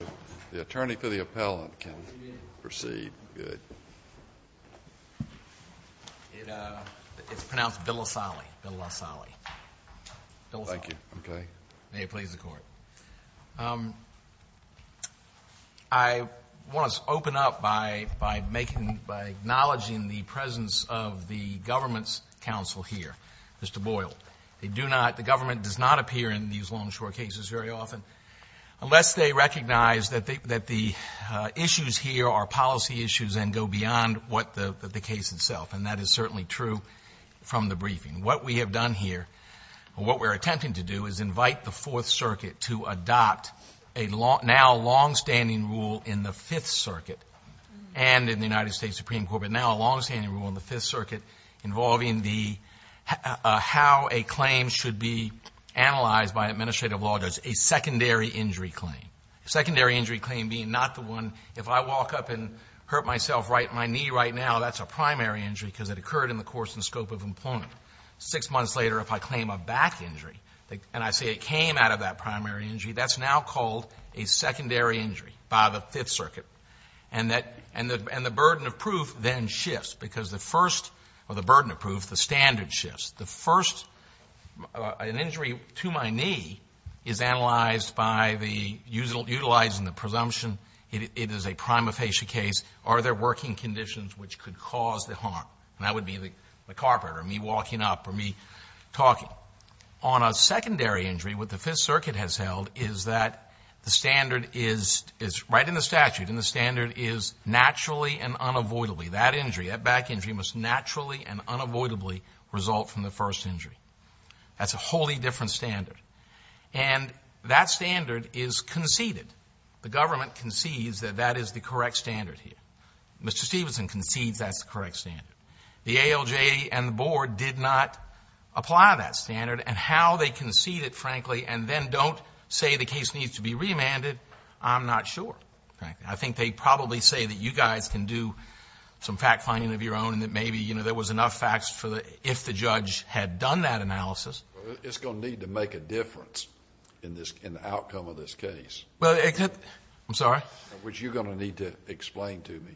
I want to open up by acknowledging the presence of the government's counsel here, Mr. Boyle. They do not, the government does not appear in these long, short cases very often unless they recognize that the issues here are policy issues and go beyond what the case itself, and that is certainly true from the briefing. What we have done here, what we're attempting to do is invite the Fourth Circuit to adopt a now longstanding rule in the Fifth Circuit and in the United States Supreme Court, but now a longstanding rule in the Fifth Circuit involving how a claim should be analyzed by administrative law judges, a secondary injury claim. A secondary injury claim being not the one, if I walk up and hurt myself right, my knee right now, that's a primary injury because it occurred in the course and scope of employment. Six months later, if I claim a back injury and I say it came out of that primary injury, that's now called a secondary injury by the Fifth Circuit. And the burden of proof then shifts because the first, or the burden of proof, the standard shifts. The first, an injury to my knee is analyzed by utilizing the presumption it is a prima facie case. Are there working conditions which could cause the harm? And that would be the carpet or me walking up or me talking. Well, on a secondary injury, what the Fifth Circuit has held is that the standard is right in the statute and the standard is naturally and unavoidably. That injury, that back injury, must naturally and unavoidably result from the first injury. That's a wholly different standard. And that standard is conceded. The government concedes that that is the correct standard here. Mr. Stevenson concedes that's the correct standard. The ALJ and the board did not apply that standard. And how they concede it, frankly, and then don't say the case needs to be remanded, I'm not sure. I think they probably say that you guys can do some fact-finding of your own and that maybe there was enough facts if the judge had done that analysis. It's going to need to make a difference in the outcome of this case. I'm sorry? Which you're going to need to explain to me.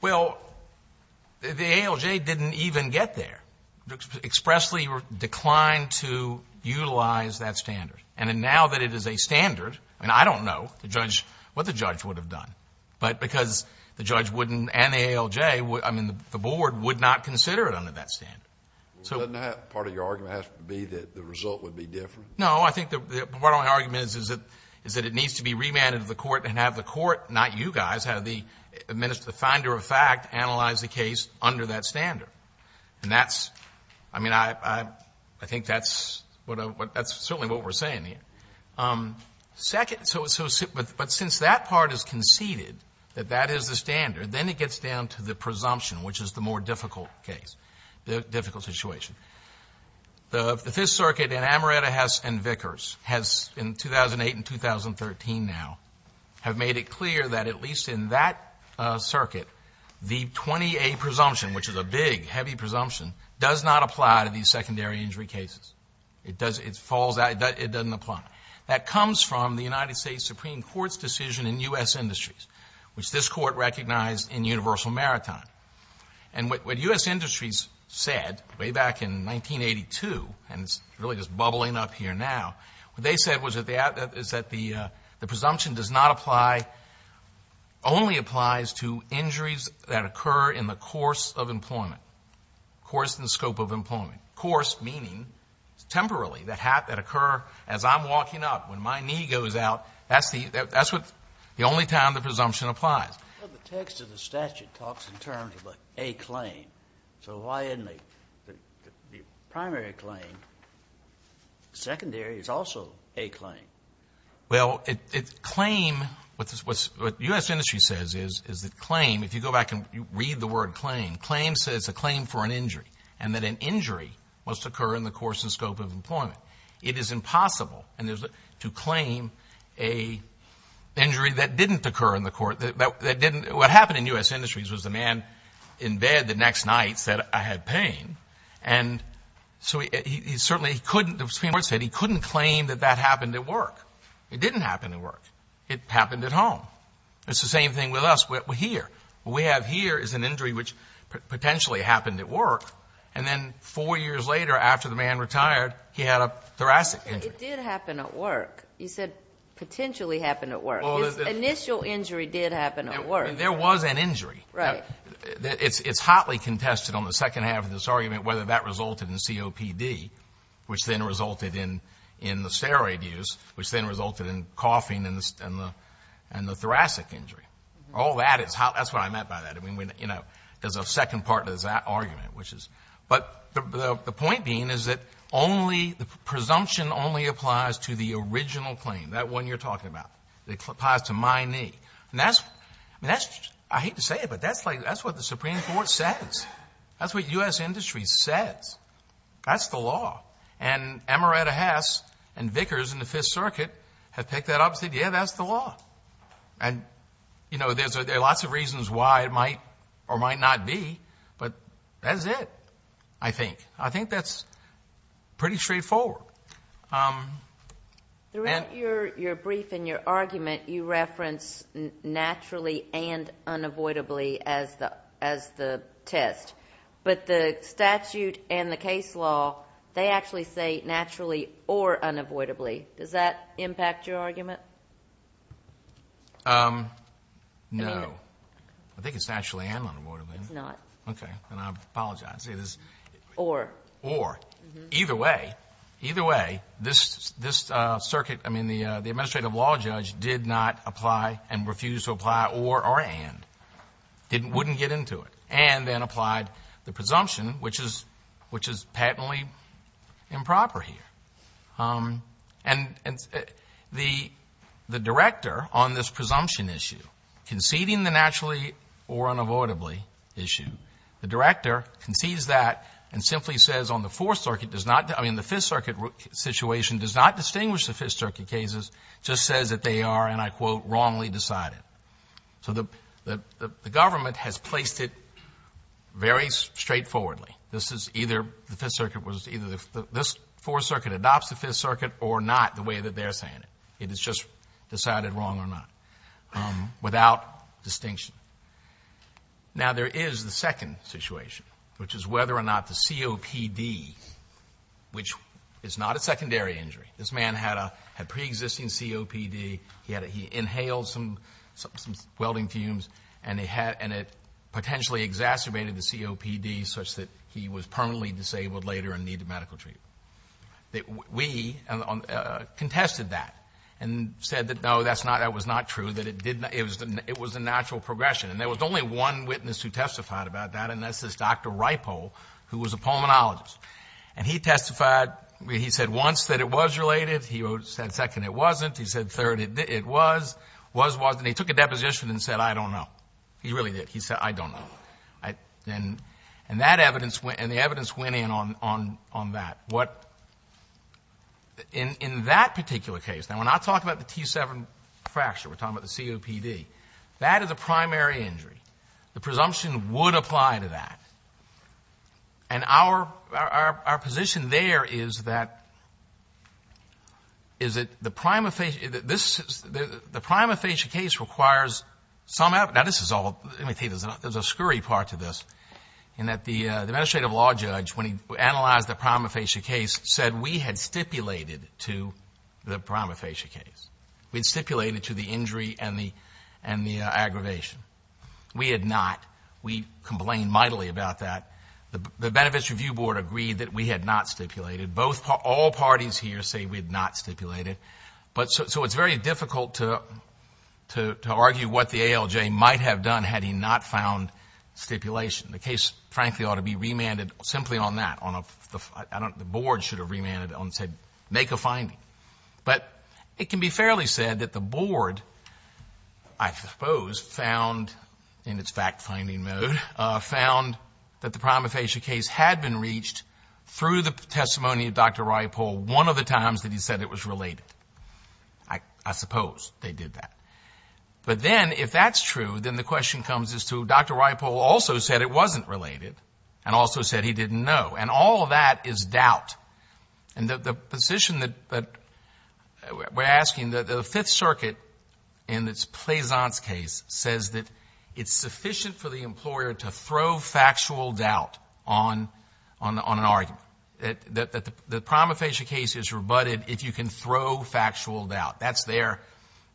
Well, the ALJ didn't even get there, expressly declined to utilize that standard. And now that it is a standard, and I don't know what the judge would have done, but because the judge wouldn't and the ALJ, I mean, the board would not consider it under that standard. Doesn't part of your argument have to be that the result would be different? No, I think the part of my argument is that it needs to be remanded to the court and have the court, not you guys, have the finder of fact analyze the case under that standard. And that's, I mean, I think that's certainly what we're saying here. But since that part is conceded, that that is the standard, then it gets down to the presumption, which is the more difficult case, the difficult situation. The Fifth Circuit in Amaretta, Hess, and Vickers has, in 2008 and 2013 now, have made it clear that at least in that circuit, the 20A presumption, which is a big, heavy presumption, does not apply to these secondary injury cases. It falls out. It doesn't apply. That comes from the United States Supreme Court's decision in U.S. Industries, which this court recognized in Universal Maritime. And what U.S. Industries said way back in 1982, and it's really just bubbling up here now, what they said was that the presumption does not apply, only applies to injuries that occur in the course of employment, course and scope of employment. Course meaning temporarily that occur as I'm walking up, when my knee goes out. That's the only time the presumption applies. Well, the text of the statute talks in terms of a claim. So why isn't the primary claim secondary? It's also a claim. Well, claim, what U.S. Industries says is that claim, if you go back and read the word claim, claim says a claim for an injury, and that an injury must occur in the course and scope of employment. It is impossible to claim an injury that didn't occur in the court, that didn't. What happened in U.S. Industries was the man in bed the next night said, I had pain. And so he certainly couldn't, the Supreme Court said he couldn't claim that that happened at work. It didn't happen at work. It happened at home. It's the same thing with us here. What we have here is an injury which potentially happened at work, and then four years later, after the man retired, he had a thoracic injury. It did happen at work. You said potentially happened at work. His initial injury did happen at work. There was an injury. Right. It's hotly contested on the second half of this argument whether that resulted in COPD, which then resulted in the steroid use, which then resulted in coughing and the thoracic injury. All that is hot. That's what I meant by that. There's a second part to that argument. But the point being is that the presumption only applies to the original claim, that one you're talking about. It applies to my knee. I hate to say it, but that's what the Supreme Court says. That's what U.S. Industries says. That's the law. And Amaretta Hess and Vickers in the Fifth Circuit have picked that up and said, yeah, that's the law. And, you know, there are lots of reasons why it might or might not be, but that's it, I think. I think that's pretty straightforward. Throughout your brief and your argument, you reference naturally and unavoidably as the test. But the statute and the case law, they actually say naturally or unavoidably. Does that impact your argument? No. I think it's naturally and unavoidably. It's not. Okay. And I apologize. Or. Or. Either way, either way, this circuit, I mean, the administrative law judge did not apply and refused to apply or or and. Wouldn't get into it and then applied the presumption, which is which is patently improper here. And the the director on this presumption issue conceding the naturally or unavoidably issue, the director concedes that and simply says on the Fourth Circuit does not. I mean, the Fifth Circuit situation does not distinguish the Fifth Circuit cases, just says that they are, and I quote, wrongly decided. So the government has placed it very straightforwardly. This is either the Fifth Circuit was either this Fourth Circuit adopts the Fifth Circuit or not the way that they're saying it. It is just decided wrong or not without distinction. Now, there is the second situation, which is whether or not the COPD, which is not a secondary injury. This man had a pre-existing COPD. He inhaled some welding fumes, and it potentially exacerbated the COPD such that he was permanently disabled later and needed medical treatment. We contested that and said that, no, that's not, that was not true, that it did not, it was a natural progression. And there was only one witness who testified about that, and that's this Dr. Ripoll, who was a pulmonologist. And he testified, he said once that it was related. He said second, it wasn't. He said third, it was, was, wasn't. He took a deposition and said, I don't know. He really did. He said, I don't know. And that evidence, and the evidence went in on that. What, in that particular case, now, when I talk about the T7 fracture, we're talking about the COPD, that is a primary injury. The presumption would apply to that. And our, our position there is that, is that the prima facie, this, the prima facie case requires some, now this is all, let me tell you, there's a scurry part to this, in that the administrative law judge, when he analyzed the prima facie case, said we had stipulated to the prima facie case. We had stipulated to the injury and the, and the aggravation. We had not. We complained mightily about that. The, the Benefits Review Board agreed that we had not stipulated. Both, all parties here say we had not stipulated. But, so, so it's very difficult to, to, to argue what the ALJ might have done had he not found stipulation. The case, frankly, ought to be remanded simply on that, on a, I don't, the board should have remanded on said, make a finding. But, it can be fairly said that the board, I suppose, found, in its fact-finding mode, found that the prima facie case had been reached through the testimony of Dr. Ryapol one of the times that he said it was related. I, I suppose they did that. But then, if that's true, then the question comes as to, Dr. Ryapol also said it wasn't related, and also said he didn't know. And all of that is doubt. And the, the position that, that we're asking, the, the Fifth Circuit, in its Plaisance case, says that it's sufficient for the employer to throw factual doubt on, on, on an argument. That, that the, the prima facie case is rebutted if you can throw factual doubt. That's their,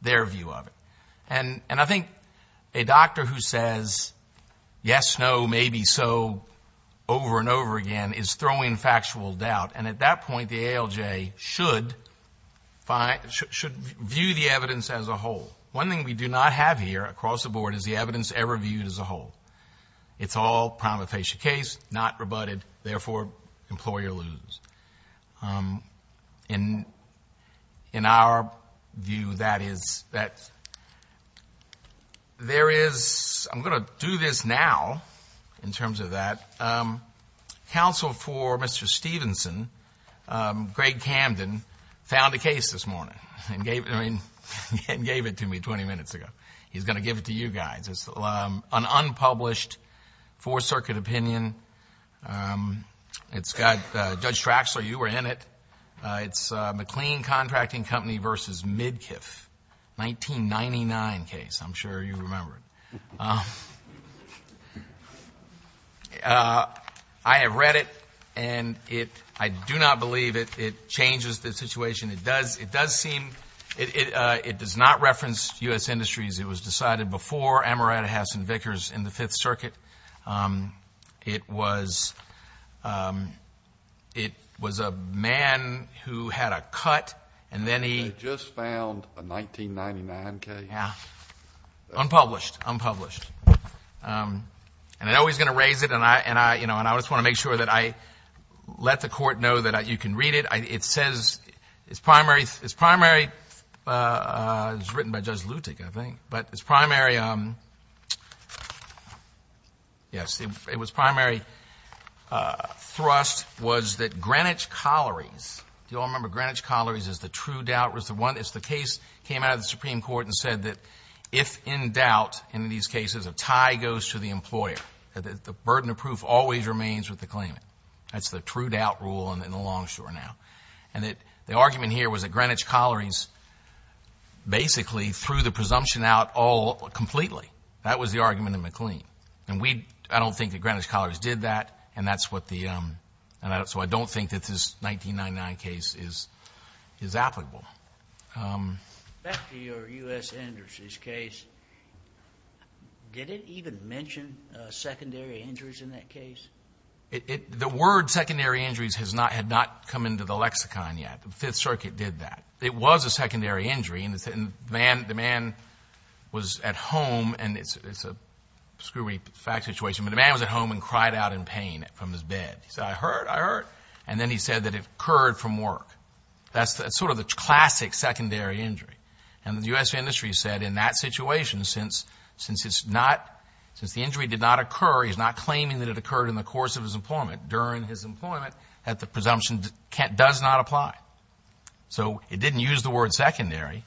their view of it. And, and I think a doctor who says, yes, no, maybe, so, over and over again, is throwing factual doubt. And at that point, the ALJ should find, should, should view the evidence as a whole. One thing we do not have here, across the board, is the evidence ever viewed as a whole. It's all prima facie case, not rebutted. Therefore, employer loses. In, in our view, that is, that there is, I'm going to do this now, in terms of that. Counsel for Mr. Stevenson, Greg Camden, found a case this morning. And gave, I mean, and gave it to me 20 minutes ago. He's going to give it to you guys. It's an unpublished Fourth Circuit opinion. It's got, Judge Traxler, you were in it. It's McLean Contracting Company versus Midkiff. 1999 case, I'm sure you remember it. I have read it, and it, I do not believe it, it changes the situation. It does, it does seem, it, it, it does not reference U.S. Industries. It was decided before Amaretta, Hess, and Vickers in the Fifth Circuit. It was, it was a man who had a cut, and then he. They just found a 1999 case. Unpublished, unpublished. And I know he's going to raise it, and I, and I, you know, and I just want to make sure that I let the court know that you can read it. It says, it's primary, it's primary, it was written by Judge Luttick, I think. But it's primary, yes, it was primary thrust was that Greenwich Collieries, do you all remember Greenwich Collieries is the true doubt, was the one, it's the case that came out of the Supreme Court and said that if in doubt, in these cases, a tie goes to the employer. The burden of proof always remains with the claimant. That's the true doubt rule in the long story now. And that the argument here was that Greenwich Collieries basically threw the presumption out all, completely. That was the argument in McLean. And we, I don't think that Greenwich Collieries did that, and that's what the, and that's why I don't think that this 1999 case is, is applicable. Back to your U.S. Endurance case, did it even mention secondary injuries in that case? It, it, the word secondary injuries has not, had not come into the lexicon yet. The Fifth Circuit did that. It was a secondary injury, and the man, the man was at home, and it's, it's a screwy fact situation, but the man was at home and cried out in pain from his bed. He said, I hurt, I hurt. And then he said that it occurred from work. That's, that's sort of the classic secondary injury. And the U.S. industry said in that situation, since, since it's not, since the injury did not occur, he's not claiming that it occurred in the course of his employment, during his employment, that the presumption does not apply. So, it didn't use the word secondary.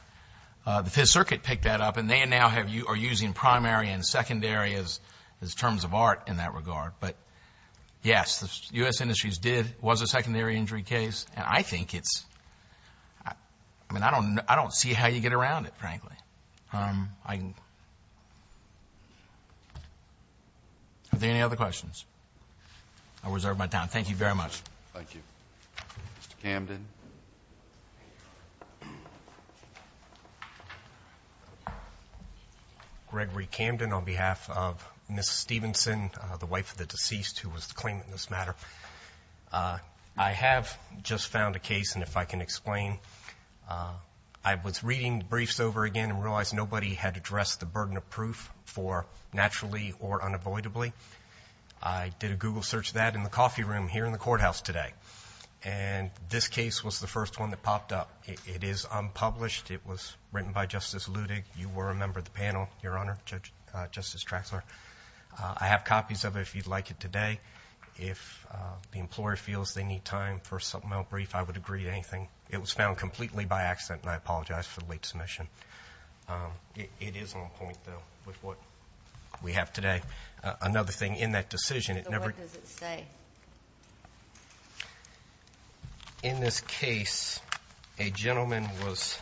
The Fifth Circuit picked that up, and they now have, are using primary and secondary as, as terms of art in that regard. But, yes, the U.S. industries did, was a secondary injury case. And I think it's, I mean, I don't, I don't see how you get around it, frankly. I, are there any other questions? I reserve my time. Thank you very much. Thank you. Mr. Camden. Gregory Camden on behalf of Ms. Stevenson, the wife of the deceased who was claiming this matter. I have just found a case, and if I can explain. I was reading briefs over again and realized nobody had addressed the burden of proof for naturally or unavoidably. I did a Google search of that in the coffee room here in the courthouse today. And this case was the first one that popped up. It is unpublished. It was written by Justice Ludig. You were a member of the panel, Your Honor, Justice Traxler. I have copies of it if you'd like it today. If the employer feels they need time for a supplemental brief, I would agree to anything. It was found completely by accident, and I apologize for the late submission. It is on point, though, with what we have today. Another thing, in that decision, it never- So what does it say? In this case, a gentleman was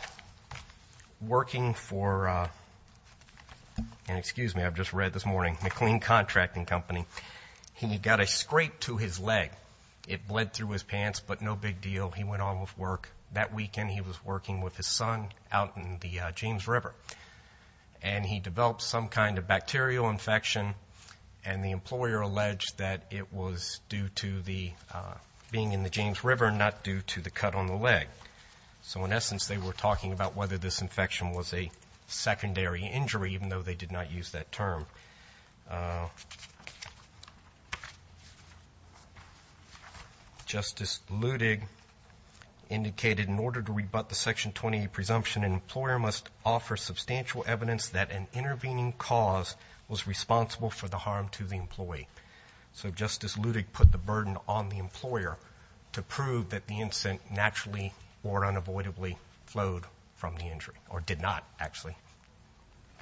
working for, and excuse me, I've just read this morning, McLean Contracting Company. He got a scrape to his leg. It bled through his pants, but no big deal. He went on with work. That weekend, he was working with his son out in the James River, and he developed some kind of bacterial infection. And the employer alleged that it was due to the being in the James River, not due to the cut on the leg. So in essence, they were talking about whether this infection was a secondary injury, even though they did not use that term. Justice Ludig indicated in order to rebut the Section 20 presumption, an employer must offer substantial evidence that an intervening cause was responsible for the harm to the employee. So Justice Ludig put the burden on the employer to prove that the incident naturally or unavoidably flowed from the injury, or did not, actually.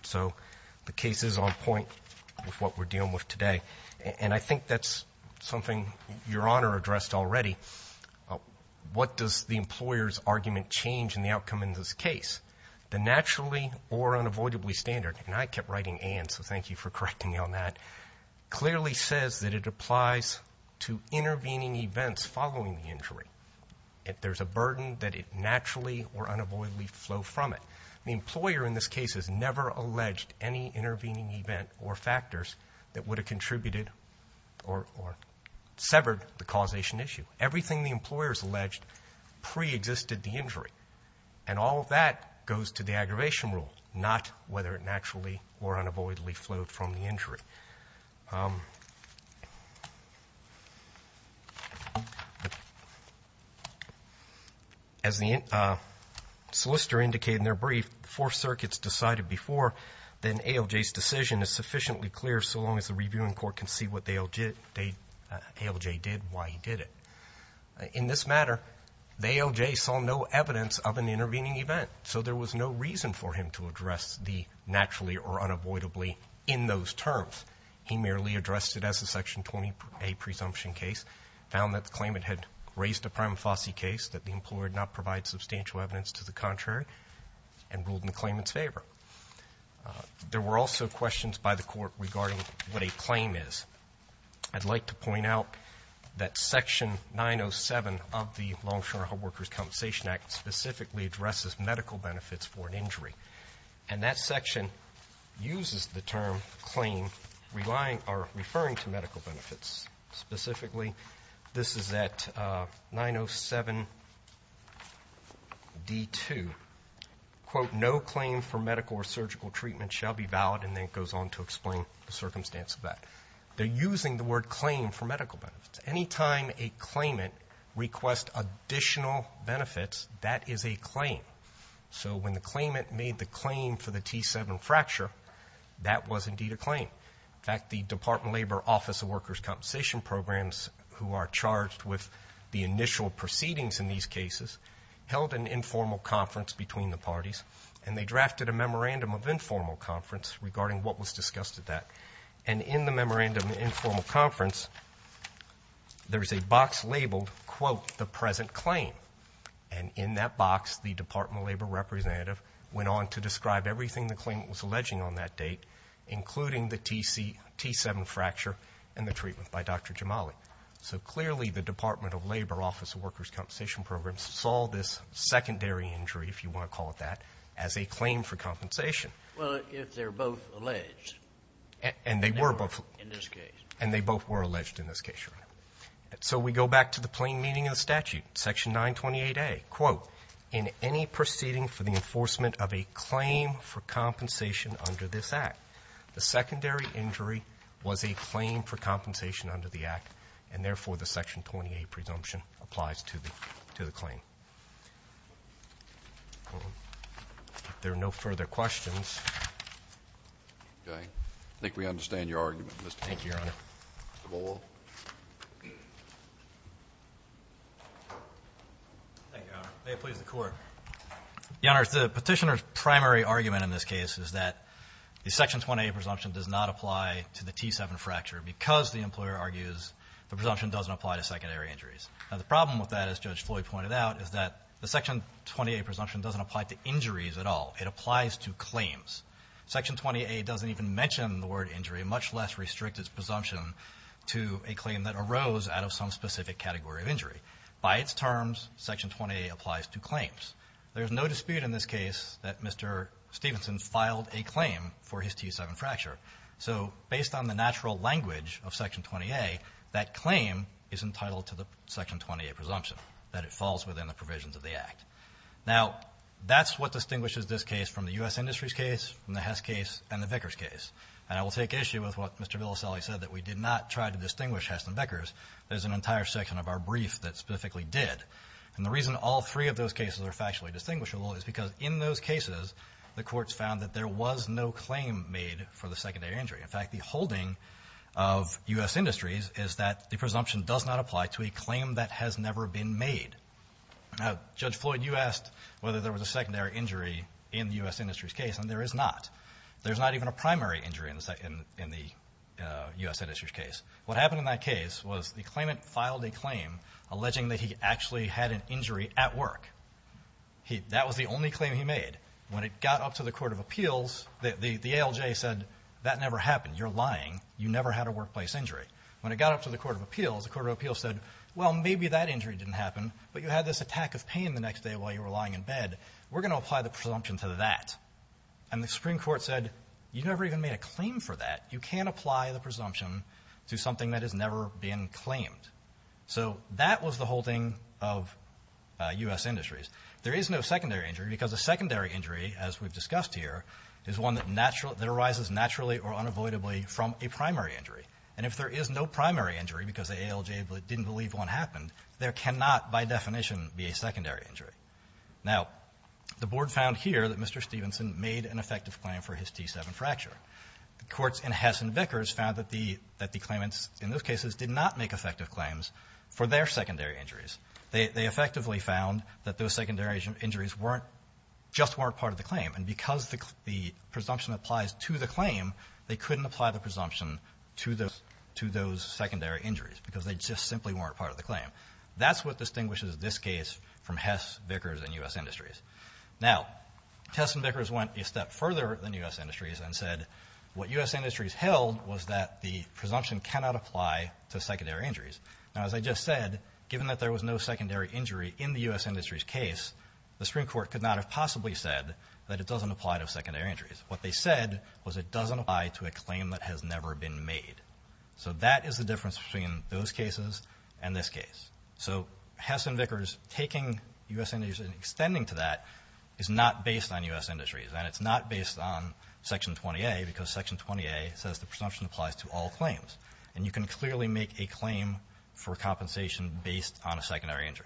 So the case is on point with what we're dealing with today. And I think that's something Your Honor addressed already. What does the employer's argument change in the outcome in this case? The naturally or unavoidably standard, and I kept writing and, so thank you for correcting me on that, clearly says that it applies to intervening events following the injury. There's a burden that it naturally or unavoidably flow from it. The employer in this case has never alleged any intervening event or factors that would have contributed or severed the causation issue. Everything the employer has alleged preexisted the injury. And all of that goes to the aggravation rule, not whether it naturally or unavoidably flowed from the injury. As the solicitor indicated in their brief, if the Fourth Circuit's decided before, then ALJ's decision is sufficiently clear so long as the reviewing court can see what ALJ did and why he did it. In this matter, the ALJ saw no evidence of an intervening event. So there was no reason for him to address the naturally or unavoidably in those terms. He merely addressed it as a Section 20A presumption case, found that the claimant had raised a prima facie case, that the employer did not provide substantial evidence to the contrary, and ruled in the claimant's favor. There were also questions by the court regarding what a claim is. I'd like to point out that Section 907 of the Long-Term Workers' Compensation Act specifically addresses medical benefits for an injury. And that section uses the term claim, referring to medical benefits. Specifically, this is at 907D2. Quote, no claim for medical or surgical treatment shall be valid, and then it goes on to explain the circumstance of that. They're using the word claim for medical benefits. Anytime a claimant requests additional benefits, that is a claim. So when the claimant made the claim for the T7 fracture, that was indeed a claim. In fact, the Department of Labor Office of Workers' Compensation Programs, who are charged with the initial proceedings in these cases, held an informal conference between the parties, and they drafted a memorandum of informal conference regarding what was discussed at that. And in the memorandum of informal conference, there is a box labeled, quote, the present claim. And in that box, the Department of Labor representative went on to describe everything the claimant was alleging on that date, including the T7 fracture and the treatment by Dr. Jamali. So clearly, the Department of Labor Office of Workers' Compensation Programs saw this secondary injury, if you want to call it that, as a claim for compensation. Well, if they're both alleged. And they were both. In this case. And they both were alleged in this case, Your Honor. So we go back to the plain meaning of the statute, Section 928A. Quote, in any proceeding for the enforcement of a claim for compensation under this Act, the secondary injury was a claim for compensation under the Act, and therefore the Section 928A presumption applies to the claim. If there are no further questions. Okay. I think we understand your argument, Mr. Boyle. Thank you, Your Honor. Mr. Boyle. Thank you, Your Honor. May it please the Court. Your Honor, the petitioner's primary argument in this case is that the Section 928A presumption does not apply to the T7 fracture because the employer argues the presumption doesn't apply to secondary injuries. Now, the problem with that, as Judge Floyd pointed out, is that the Section 928A presumption doesn't apply to injuries at all. It applies to claims. Section 928A doesn't even mention the word injury, much less restrict its presumption to a claim that arose out of some specific category of injury. By its terms, Section 928A applies to claims. There's no dispute in this case that Mr. Stevenson filed a claim for his T7 fracture. So based on the natural language of Section 928A, that claim is entitled to the Section 928A presumption, that it falls within the provisions of the Act. Now, that's what distinguishes this case from the U.S. Industries case, from the Hess case, and the Vickers case. And I will take issue with what Mr. Villaselli said, that we did not try to distinguish Hess and Vickers. There's an entire section of our brief that specifically did. And the reason all three of those cases are factually distinguishable is because in those cases, the courts found that there was no claim made for the secondary injury. In fact, the holding of U.S. Industries is that the presumption does not apply to a claim that has never been made. Now, Judge Floyd, you asked whether there was a secondary injury in the U.S. Industries case, and there is not. There's not even a primary injury in the U.S. Industries case. What happened in that case was the claimant filed a claim alleging that he actually had an injury at work. That was the only claim he made. When it got up to the Court of Appeals, the ALJ said, that never happened. You're lying. You never had a workplace injury. When it got up to the Court of Appeals, the Court of Appeals said, well, maybe that injury didn't happen, but you had this attack of pain the next day while you were lying in bed. We're going to apply the presumption to that. And the Supreme Court said, you never even made a claim for that. You can't apply the presumption to something that has never been claimed. So that was the whole thing of U.S. Industries. There is no secondary injury because a secondary injury, as we've discussed here, is one that arises naturally or unavoidably from a primary injury. And if there is no primary injury because the ALJ didn't believe one happened, there cannot, by definition, be a secondary injury. Now, the Board found here that Mr. Stevenson made an effective claim for his T7 fracture. The courts in Hess and Vickers found that the claimants in those cases did not make effective claims for their secondary injuries. They effectively found that those secondary injuries weren't, just weren't part of the claim. And because the presumption applies to the claim, they couldn't apply the presumption to those secondary injuries because they just simply weren't part of the claim. That's what distinguishes this case from Hess, Vickers, and U.S. Industries. Now, Hess and Vickers went a step further than U.S. Industries and said what U.S. Industries held was that the presumption cannot apply to secondary injuries. Now, as I just said, given that there was no secondary injury in the U.S. Industries case, the Supreme Court could not have possibly said that it doesn't apply to secondary injuries. What they said was it doesn't apply to a claim that has never been made. So that is the difference between those cases and this case. So Hess and Vickers taking U.S. Industries and extending to that is not based on U.S. Industries, and it's not based on Section 20A because Section 20A says the presumption applies to all claims. And you can clearly make a claim for compensation based on a secondary injury.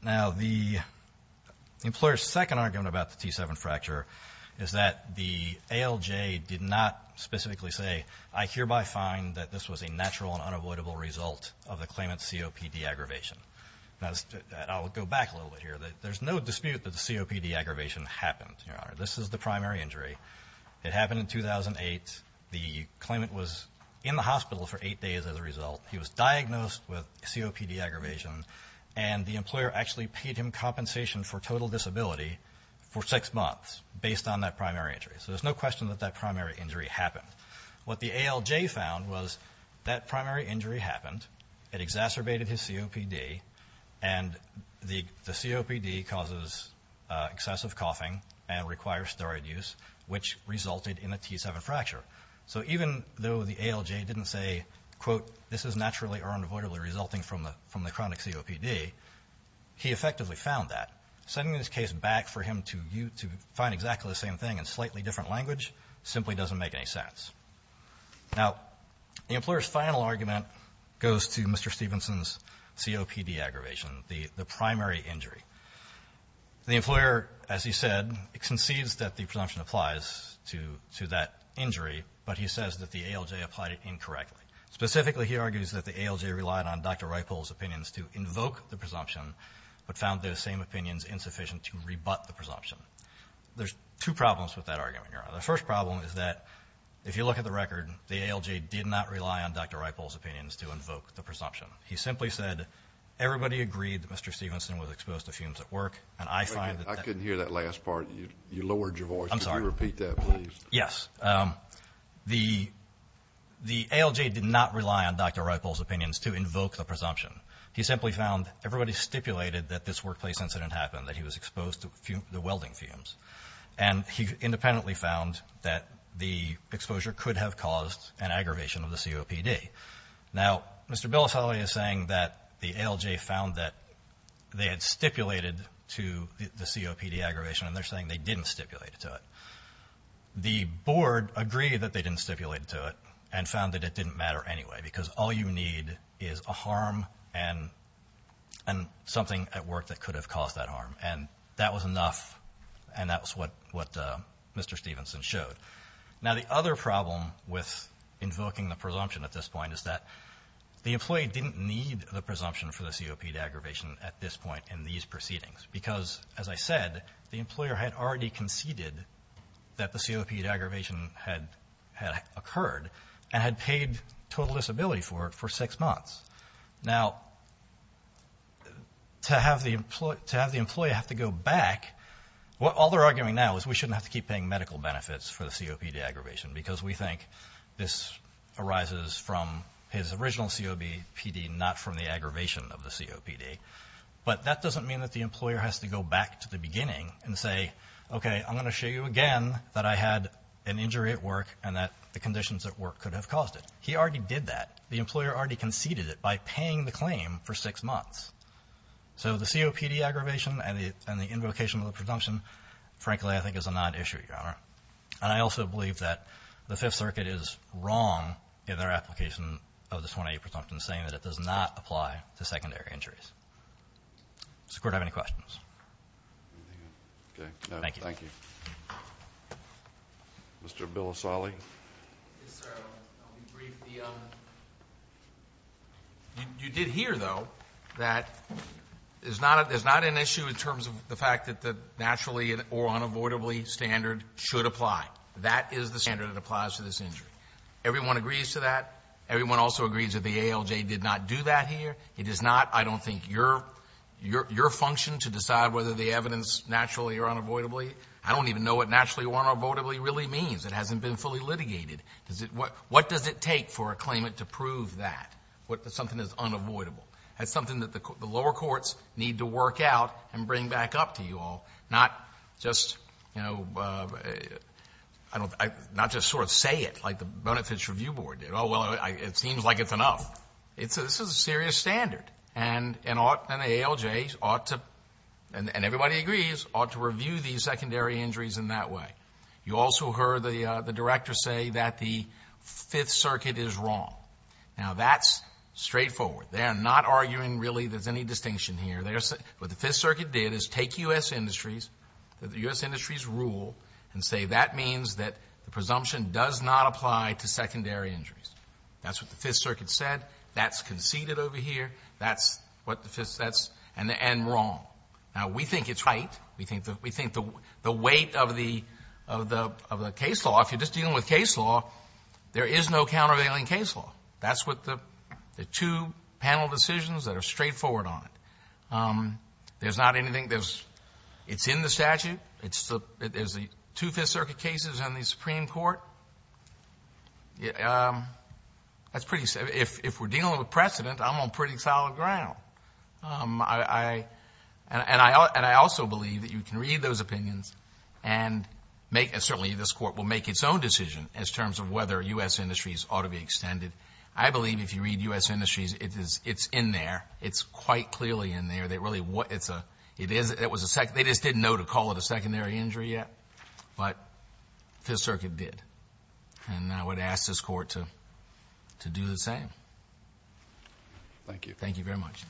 Now, the employer's second argument about the T7 fracture is that the ALJ did not specifically say, I hereby find that this was a natural and unavoidable result of the claimant's COPD aggravation. Now, I'll go back a little bit here. There's no dispute that the COPD aggravation happened, Your Honor. This is the primary injury. It happened in 2008. The claimant was in the hospital for eight days as a result. He was diagnosed with COPD aggravation, and the employer actually paid him compensation for total disability for six months based on that primary injury. So there's no question that that primary injury happened. What the ALJ found was that primary injury happened, it exacerbated his COPD, and the COPD causes excessive coughing and requires steroid use, which resulted in a T7 fracture. So even though the ALJ didn't say, quote, this is naturally or unavoidably resulting from the chronic COPD, he effectively found that. Sending this case back for him to find exactly the same thing in slightly different language simply doesn't make any sense. Now, the employer's final argument goes to Mr. Stevenson's COPD aggravation, the primary injury. The employer, as he said, concedes that the presumption applies to that injury, but he says that the ALJ applied it incorrectly. Specifically, he argues that the ALJ relied on Dr. Reupel's opinions to invoke the presumption but found those same opinions insufficient to rebut the presumption. There's two problems with that argument, Your Honor. The first problem is that, if you look at the record, the ALJ did not rely on Dr. Reupel's opinions to invoke the presumption. He simply said, everybody agreed that Mr. Stevenson was exposed to fumes at work, and I find that that- I couldn't hear that last part. You lowered your voice. I'm sorry. Could you repeat that, please? Yes. The ALJ did not rely on Dr. Reupel's opinions to invoke the presumption. He simply found everybody stipulated that this workplace incident happened, that he was exposed to the welding fumes. And he independently found that the exposure could have caused an aggravation of the COPD. Now, Mr. Bilasoli is saying that the ALJ found that they had stipulated to the COPD aggravation, and they're saying they didn't stipulate to it. The board agreed that they didn't stipulate to it and found that it didn't matter anyway, because all you need is a harm and something at work that could have caused that harm. And that was enough, and that was what Mr. Stevenson showed. Now, the other problem with invoking the presumption at this point is that the employee didn't need the presumption for the COPD aggravation at this point in these proceedings, because, as I said, the employer had already conceded that the COPD aggravation had occurred and had paid total disability for it for six months. Now, to have the employee have to go back, all they're arguing now is we shouldn't have to keep paying medical benefits for the COPD aggravation, because we think this arises from his original COPD, not from the aggravation of the COPD. But that doesn't mean that the employer has to go back to the beginning and say, okay, I'm going to show you again that I had an injury at work and that the conditions at work could have caused it. He already did that. The employer already conceded it by paying the claim for six months. So the COPD aggravation and the invocation of the presumption, frankly, I think is a non-issue, Your Honor. And I also believe that the Fifth Circuit is wrong in their application of the 28 presumptions, saying that it does not apply to secondary injuries. Does the Court have any questions? Thank you. Thank you. Mr. Bilasoli. Yes, sir. I'll be brief. You did hear, though, that there's not an issue in terms of the fact that the naturally or unavoidably standard should apply. That is the standard that applies to this injury. Everyone agrees to that. Everyone also agrees that the ALJ did not do that here. It is not, I don't think, your function to decide whether the evidence naturally or unavoidably. I don't even know what naturally or unavoidably really means. It hasn't been fully litigated. What does it take for a claimant to prove that, that something is unavoidable? That's something that the lower courts need to work out and bring back up to you all, not just sort of say it like the Benefits Review Board did. Oh, well, it seems like it's enough. This is a serious standard, and the ALJ ought to, and everybody agrees, ought to review these secondary injuries in that way. You also heard the Director say that the Fifth Circuit is wrong. Now, that's straightforward. They're not arguing really there's any distinction here. What the Fifth Circuit did is take U.S. Industries, the U.S. Industries rule, and say that means that the presumption does not apply to secondary injuries. That's what the Fifth Circuit said. That's conceded over here. That's what the Fifth, and wrong. Now, we think it's right. We think the weight of the case law, if you're just dealing with case law, there is no countervailing case law. That's what the two panel decisions that are straightforward on it. There's not anything that's in the statute. There's the two Fifth Circuit cases on the Supreme Court. That's pretty simple. If we're dealing with precedent, I'm on pretty solid ground. And I also believe that you can read those opinions and make, and certainly this Court will make its own decision as terms of whether U.S. Industries ought to be extended. I believe if you read U.S. Industries, it's in there. It's quite clearly in there. It's a, it is, it was a, they just didn't know to call it a secondary injury yet, but Fifth Circuit did. And I would ask this Court to do the same. Thank you. Thank you very much.